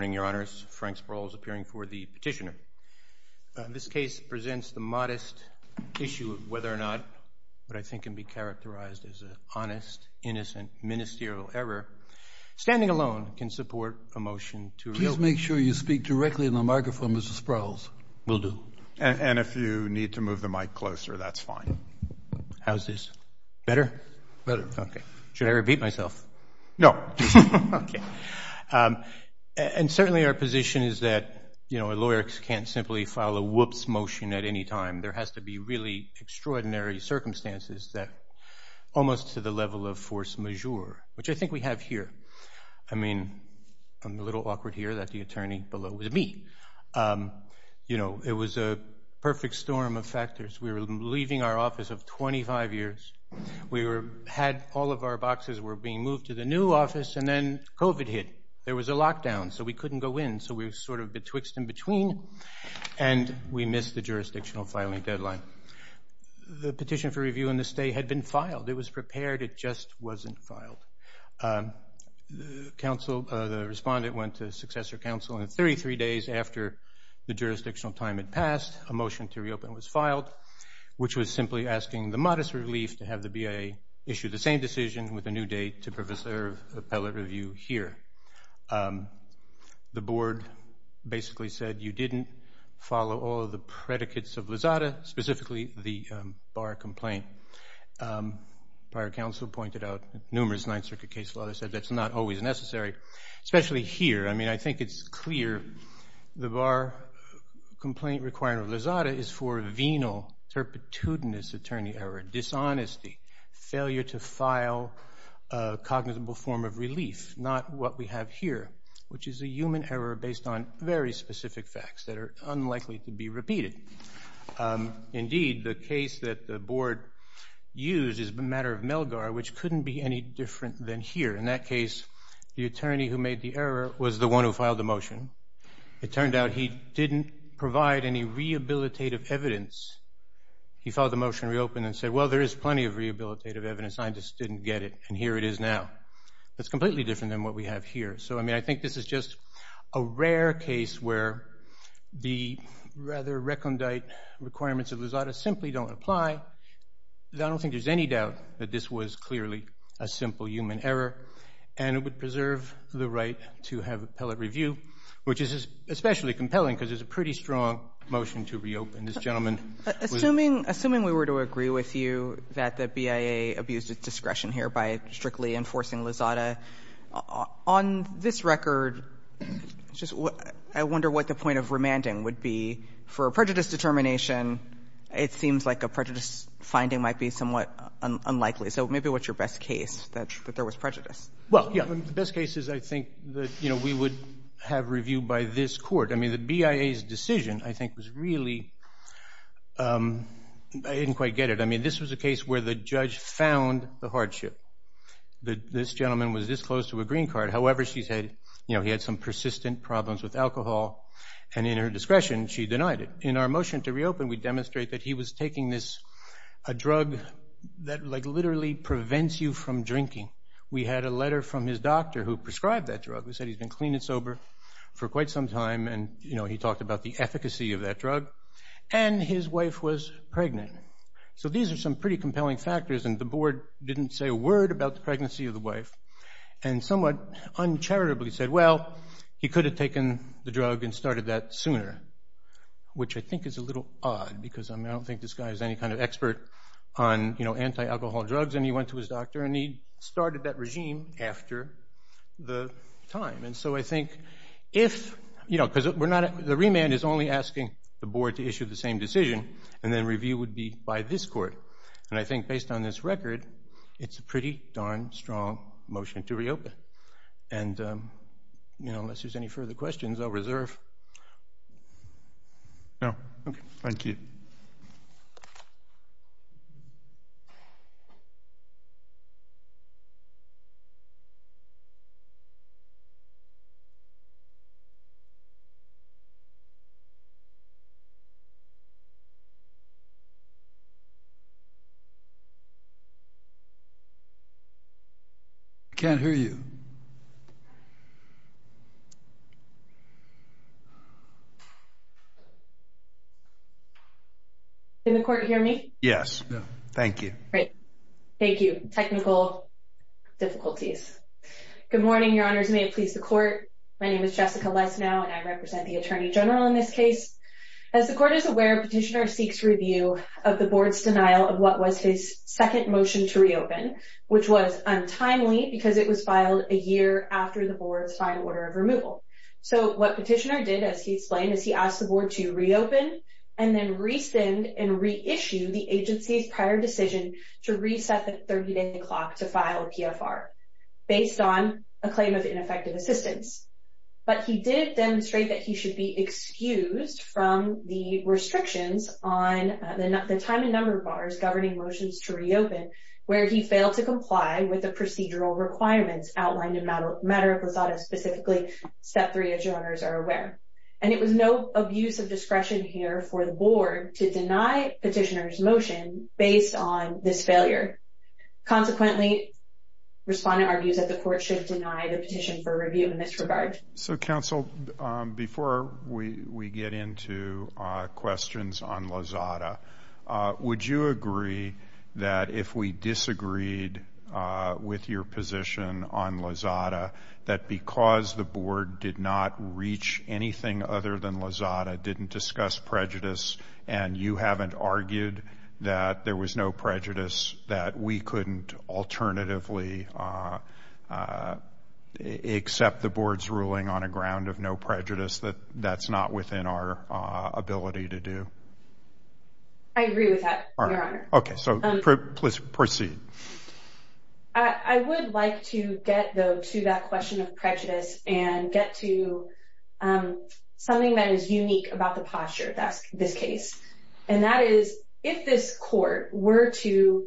Good morning, Your Honors. Frank Sproul is appearing for the petitioner. This case presents the modest issue of whether or not what I think can be characterized as an honest, innocent, ministerial error. Standing alone can support a motion to repeal. Please make sure you speak directly in the microphone, Mr. Sproul. Will do. And if you need to move the mic closer, that's fine. How's this? Better? Better. Okay. Should I repeat myself? No. Okay. And certainly our position is that, you know, a lawyer can't simply file a whoops motion at any time. There has to be really extraordinary circumstances that almost to the level of force majeure, which I think we have here. I mean, I'm a little awkward here that the attorney below is me. You know, it was a perfect storm of factors. We were leaving our office of 25 years. We had all of our boxes were being moved to the new office, and then COVID hit. There was a lockdown, so we couldn't go in. So we were sort of betwixt and between, and we missed the jurisdictional filing deadline. The petition for review and the stay had been filed. It was prepared. It just wasn't filed. The respondent went to successor counsel, and 33 days after the jurisdictional time had passed, a motion to reopen was filed, which was simply asking the modest relief to have the BIA issue the same decision with a new date to preserve appellate review here. The board basically said you didn't follow all of the predicates of Lozada, specifically the Barr complaint. Prior counsel pointed out numerous Ninth Circuit case law. They said that's not always necessary, especially here. I mean, I think it's clear. The Barr complaint requiring Lozada is for venal, turpitudinous attorney error, dishonesty, failure to file a cognizable form of relief, not what we have here, which is a human error based on very specific facts that are unlikely to be repeated. Indeed, the case that the board used is the matter of Melgar, which couldn't be any different than here. In that case, the attorney who made the error was the one who filed the motion. It turned out he didn't provide any rehabilitative evidence. He filed the motion to reopen and said, well, there is plenty of rehabilitative evidence. I just didn't get it, and here it is now. It's completely different than what we have here. So, I mean, I think this is just a rare case where the rather recondite requirements of Lozada simply don't apply. I don't think there's any doubt that this was clearly a simple human error, and it would preserve the right to have appellate review, which is especially compelling because it's a pretty strong motion to reopen. This gentleman was ---- Assuming we were to agree with you that the BIA abused its discretion here by strictly enforcing Lozada, on this record, I wonder what the point of remanding would be. For a prejudice determination, it seems like a prejudice finding might be somewhat unlikely, so maybe what's your best case that there was prejudice? Well, yeah, the best case is I think that, you know, we would have review by this court. I mean, the BIA's decision, I think, was really ---- I didn't quite get it. I mean, this was a case where the judge found the hardship. This gentleman was this close to a green card. However, she said, you know, he had some persistent problems with alcohol, and in her discretion, she denied it. In our motion to reopen, we demonstrate that he was taking this, a drug that like literally prevents you from drinking. We had a letter from his doctor who prescribed that drug. We said he's been clean and sober for quite some time, and, you know, he talked about the efficacy of that drug, and his wife was pregnant. So these are some pretty compelling factors, and the board didn't say a word about the pregnancy of the wife and somewhat uncharitably said, well, he could have taken the drug and started that sooner, which I think is a little odd because, I mean, I don't think this guy is any kind of expert on, you know, anti-alcohol drugs, and he went to his doctor, and he started that regime after the time. And so I think if, you know, because the remand is only asking the board to issue the same decision, and then review would be by this court. And I think based on this record, it's a pretty darn strong motion to reopen. And, you know, unless there's any further questions, I'll reserve. No. Okay. Thank you. I can't hear you. Can the court hear me? Yes. Thank you. Great. Thank you. Technical difficulties. Good morning, Your Honors. May it please the court. My name is Jessica Lesnow, and I represent the Attorney General in this case. As the court is aware, petitioner seeks review of the board's denial of what was his second motion to reopen, which was untimely because it was filed a year after the board's final order of removal. So what petitioner did, as he explained, is he asked the board to reopen and then resend and reissue the agency's prior decision to reset the 30-day clock to file a PFR based on a claim of ineffective assistance. But he did demonstrate that he should be excused from the restrictions on the time and number bars governing motions to reopen, where he failed to comply with the procedural requirements outlined in Matter of Posada, specifically Step 3, as Your Honors are aware. And it was no abuse of discretion here for the board to deny petitioner's motion based on this failure. Consequently, respondent argues that the court should deny the petition for review in this regard. So, counsel, before we get into questions on Lasada, would you agree that if we disagreed with your position on Lasada, that because the board did not reach anything other than Lasada, didn't discuss prejudice, and you haven't argued that there was no prejudice, that we couldn't alternatively accept the board's ruling on a ground of no prejudice, that that's not within our ability to do? I agree with that, Your Honor. Okay, so please proceed. I would like to get, though, to that question of prejudice and get to something that is unique about the posture of this case. And that is, if this court were to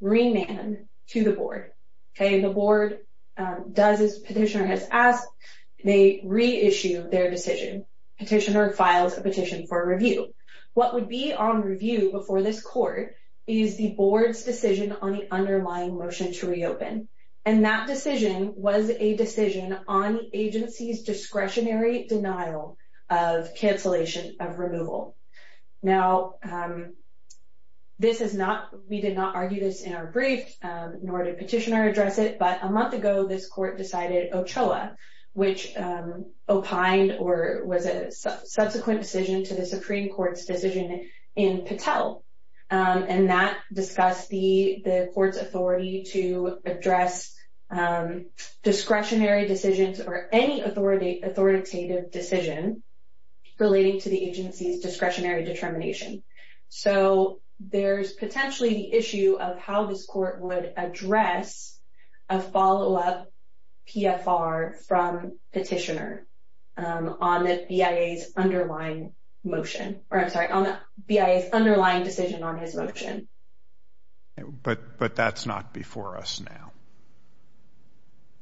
remand to the board, the board does as petitioner has asked, they reissue their decision. Petitioner files a petition for review. What would be on review before this court is the board's decision on the underlying motion to reopen. And that decision was a decision on the agency's discretionary denial of cancellation of removal. Now, this is not, we did not argue this in our brief, nor did petitioner address it, but a month ago this court decided OCHOA, which opined or was a subsequent decision to the Supreme Court's decision in Patel. And that discussed the court's authority to address discretionary decisions or any authoritative decision relating to the agency's discretionary determination. So there's potentially the issue of how this court would address a follow-up PFR from petitioner on the BIA's underlying motion, or I'm sorry, on the BIA's underlying decision on his motion. But that's not before us now.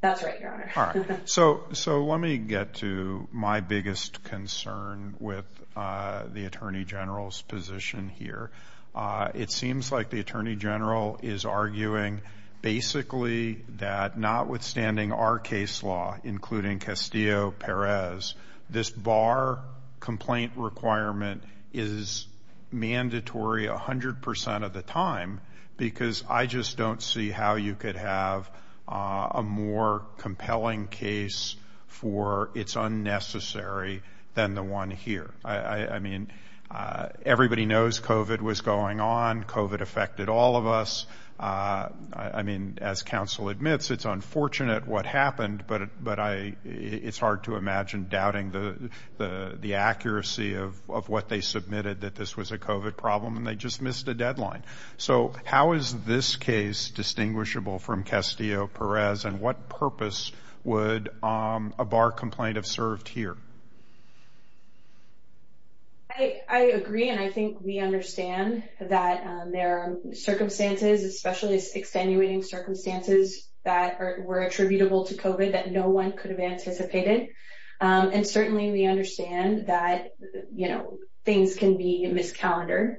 That's right, Your Honor. So let me get to my biggest concern with the Attorney General's position here. It seems like the Attorney General is arguing basically that notwithstanding our case law, including Castillo-Perez, this bar complaint requirement is mandatory 100% of the time because I just don't see how you could have a more compelling case for it's unnecessary than the one here. I mean, everybody knows COVID was going on. COVID affected all of us. I mean, as counsel admits, it's unfortunate what happened, but it's hard to imagine doubting the accuracy of what they submitted that this was a COVID problem and they just missed a deadline. So how is this case distinguishable from Castillo-Perez, and what purpose would a bar complaint have served here? I agree, and I think we understand that there are circumstances, especially extenuating circumstances that were attributable to COVID that no one could have anticipated. And certainly we understand that things can be miscalendared.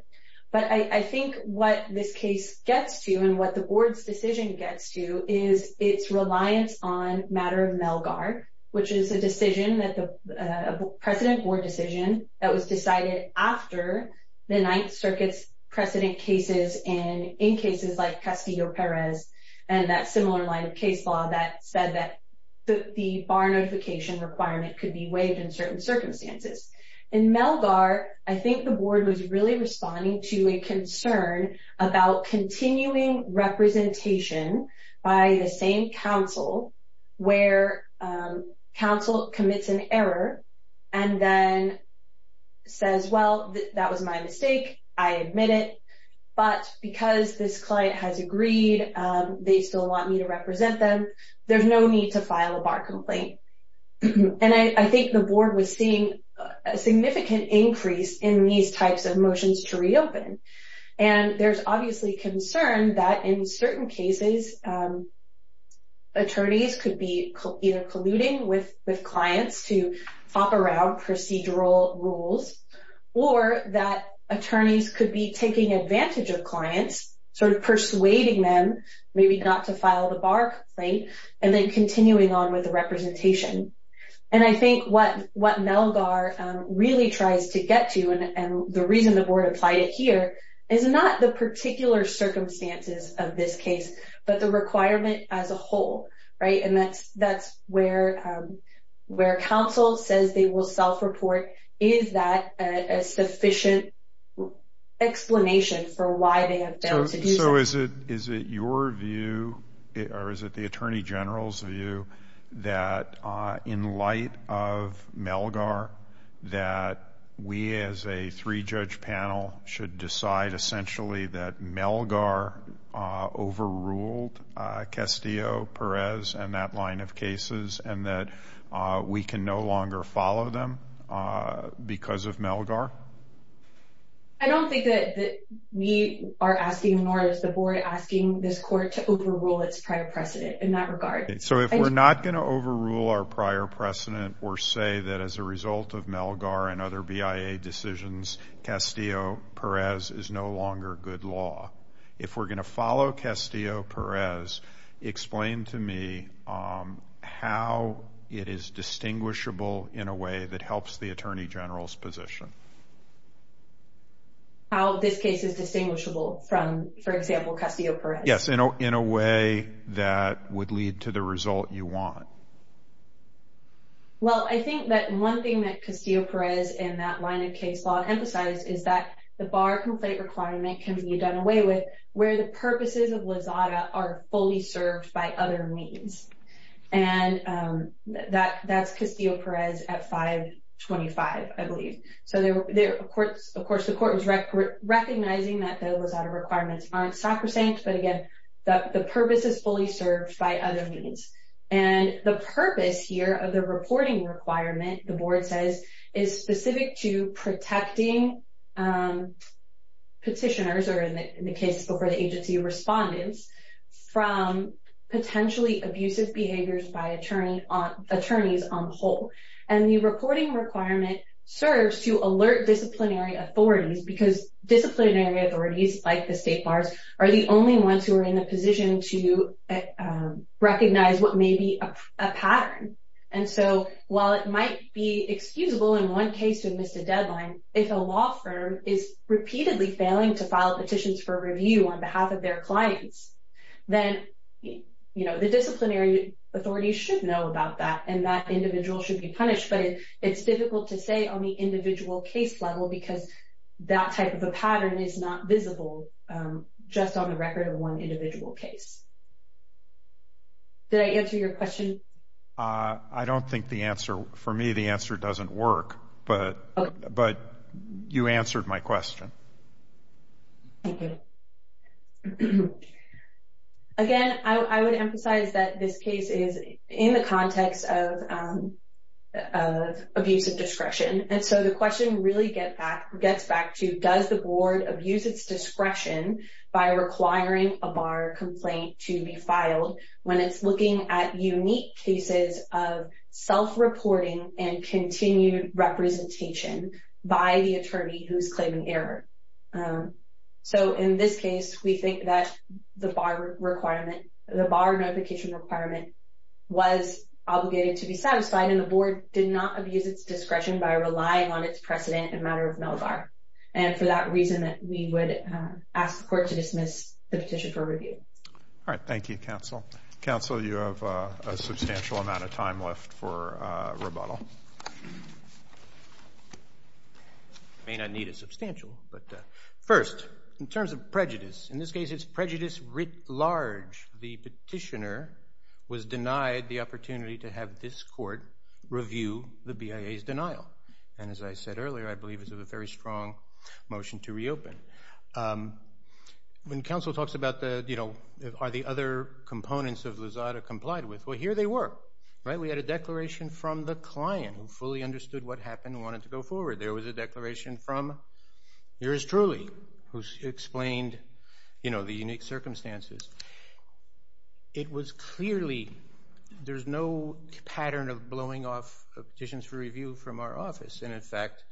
But I think what this case gets to, and what the Board's decision gets to, is its reliance on matter of Melgar, which is a precedent Board decision that was decided after the Ninth Circuit's precedent cases and in cases like Castillo-Perez and that similar line of case law that said that the bar notification requirement could be waived in certain circumstances. In Melgar, I think the Board was really responding to a concern about continuing representation by the same counsel where counsel commits an error and then says, well, that was my mistake, I admit it, but because this client has agreed, they still want me to represent them, there's no need to file a bar complaint. And I think the Board was seeing a significant increase in these types of motions to reopen. And there's obviously concern that in certain cases, attorneys could be either colluding with clients to fop around procedural rules or that attorneys could be taking advantage of clients, sort of persuading them, maybe not to file the bar complaint, and then continuing on with the representation. And I think what Melgar really tries to get to, and the reason the Board applied it here, is not the particular circumstances of this case, but the requirement as a whole. And that's where counsel says they will self-report. Is that a sufficient explanation for why they have failed to do so? So is it your view, or is it the Attorney General's view, that in light of Melgar, that we as a three-judge panel should decide essentially that Melgar overruled Castillo-Perez and that line of cases, and that we can no longer follow them because of Melgar? I don't think that we are asking, nor is the Board, asking this Court to overrule its prior precedent in that regard. So if we're not going to overrule our prior precedent, or say that as a result of Melgar and other BIA decisions, Castillo-Perez is no longer good law. If we're going to follow Castillo-Perez, explain to me how it is distinguishable in a way that helps the Attorney General's position. How this case is distinguishable from, for example, Castillo-Perez? Yes, in a way that would lead to the result you want. Well, I think that one thing that Castillo-Perez and that line of case law emphasize is that the bar complaint requirement can be done away with where the purposes of LAZADA are fully served by other means. And that's Castillo-Perez at 525, I believe. So, of course, the Court was recognizing that the LAZADA requirements aren't sacrosanct, but again, the purpose is fully served by other means. And the purpose here of the reporting requirement, the Board says, is specific to protecting petitioners, or in the case before the agency, respondents, from potentially abusive behaviors by attorneys on the whole. And the reporting requirement serves to alert disciplinary authorities because disciplinary authorities, like the state bars, are the only ones who are in a position to recognize what may be a pattern. And so while it might be excusable in one case to have missed a deadline, if a law firm is repeatedly failing to file petitions for review on behalf of their clients, then the disciplinary authorities should know about that, and that individual should be punished. But it's difficult to say on the individual case level because that type of a pattern is not visible just on the record of one individual case. Did I answer your question? I don't think the answer. For me, the answer doesn't work. But you answered my question. Thank you. Again, I would emphasize that this case is in the context of abusive discretion. And so the question really gets back to, does the board abuse its discretion by requiring a bar complaint to be filed when it's looking at unique cases of self-reporting and continued representation by the attorney who's claiming error? So in this case, we think that the bar notification requirement was obligated to be satisfied, and the board did not abuse its discretion by relying on its precedent in matter of mail bar. And for that reason, we would ask the court to dismiss the petition for review. All right. Thank you, counsel. Counsel, you have a substantial amount of time left for rebuttal. I may not need a substantial. But first, in terms of prejudice, in this case it's prejudice writ large. The petitioner was denied the opportunity to have this court review the BIA's denial. And as I said earlier, I believe this is a very strong motion to reopen. When counsel talks about, you know, are the other components of Lozada complied with, well, here they were. Right? We had a declaration from the client who fully understood what happened and wanted to go forward. There was a declaration from yours truly who explained, you know, the unique circumstances. It was clearly there's no pattern of blowing off petitions for review from our office. And, in fact,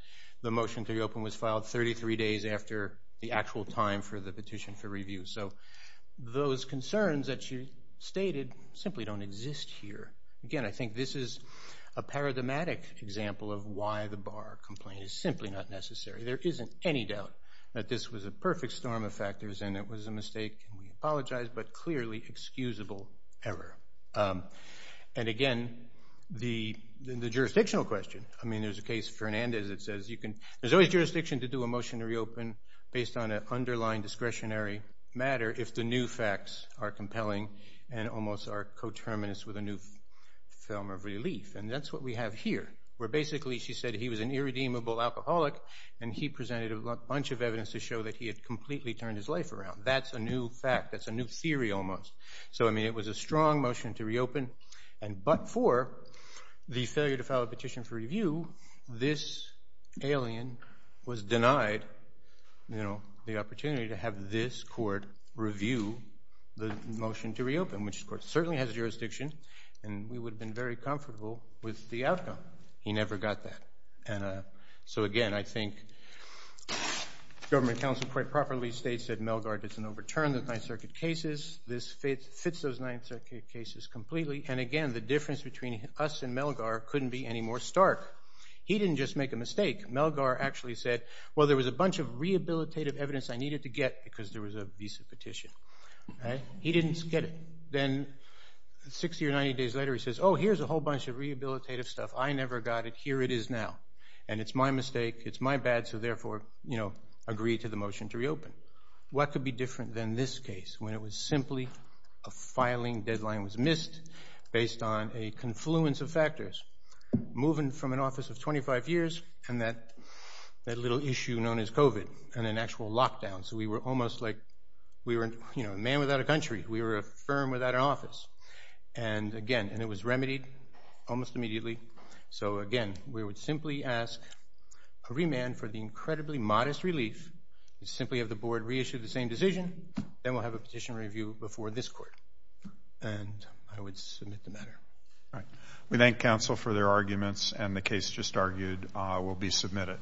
the motion to reopen was filed 33 days after the actual time for the petition for review. So those concerns that you stated simply don't exist here. Again, I think this is a paradigmatic example of why the bar complaint is simply not necessary. There isn't any doubt that this was a perfect storm of factors and it was a mistake. And we apologize, but clearly excusable error. And, again, the jurisdictional question, I mean, there's a case, Fernandez, that says you can – there's always jurisdiction to do a motion to reopen based on an underlying discretionary matter if the new facts are compelling and almost are coterminous with a new film of relief. And that's what we have here, where basically she said he was an irredeemable alcoholic and he presented a bunch of evidence to show that he had completely turned his life around. That's a new fact. That's a new theory almost. So, I mean, it was a strong motion to reopen, but for the failure to file a petition for review, this alien was denied the opportunity to have this court review the motion to reopen, which, of course, certainly has jurisdiction and we would have been very comfortable with the outcome. He never got that. So, again, I think government counsel quite properly states that Melgar didn't overturn the Ninth Circuit cases. This fits those Ninth Circuit cases completely. And, again, the difference between us and Melgar couldn't be any more stark. He didn't just make a mistake. Melgar actually said, well, there was a bunch of rehabilitative evidence I needed to get because there was a visa petition. He didn't get it. Then 60 or 90 days later, he says, oh, here's a whole bunch of rehabilitative stuff. I never got it. Here it is now. And it's my mistake. It's my bad. So, therefore, agree to the motion to reopen. What could be different than this case when it was simply a filing deadline was missed based on a confluence of factors, moving from an office of 25 years and that little issue known as COVID and an actual lockdown. So, we were almost like a man without a country. We were a firm without an office. And, again, it was remedied almost immediately. So, again, we would simply ask a remand for the incredibly modest relief, simply have the board reissue the same decision, then we'll have a petition review before this court. And I would submit the matter. All right. We thank counsel for their arguments, and the case just argued will be submitted.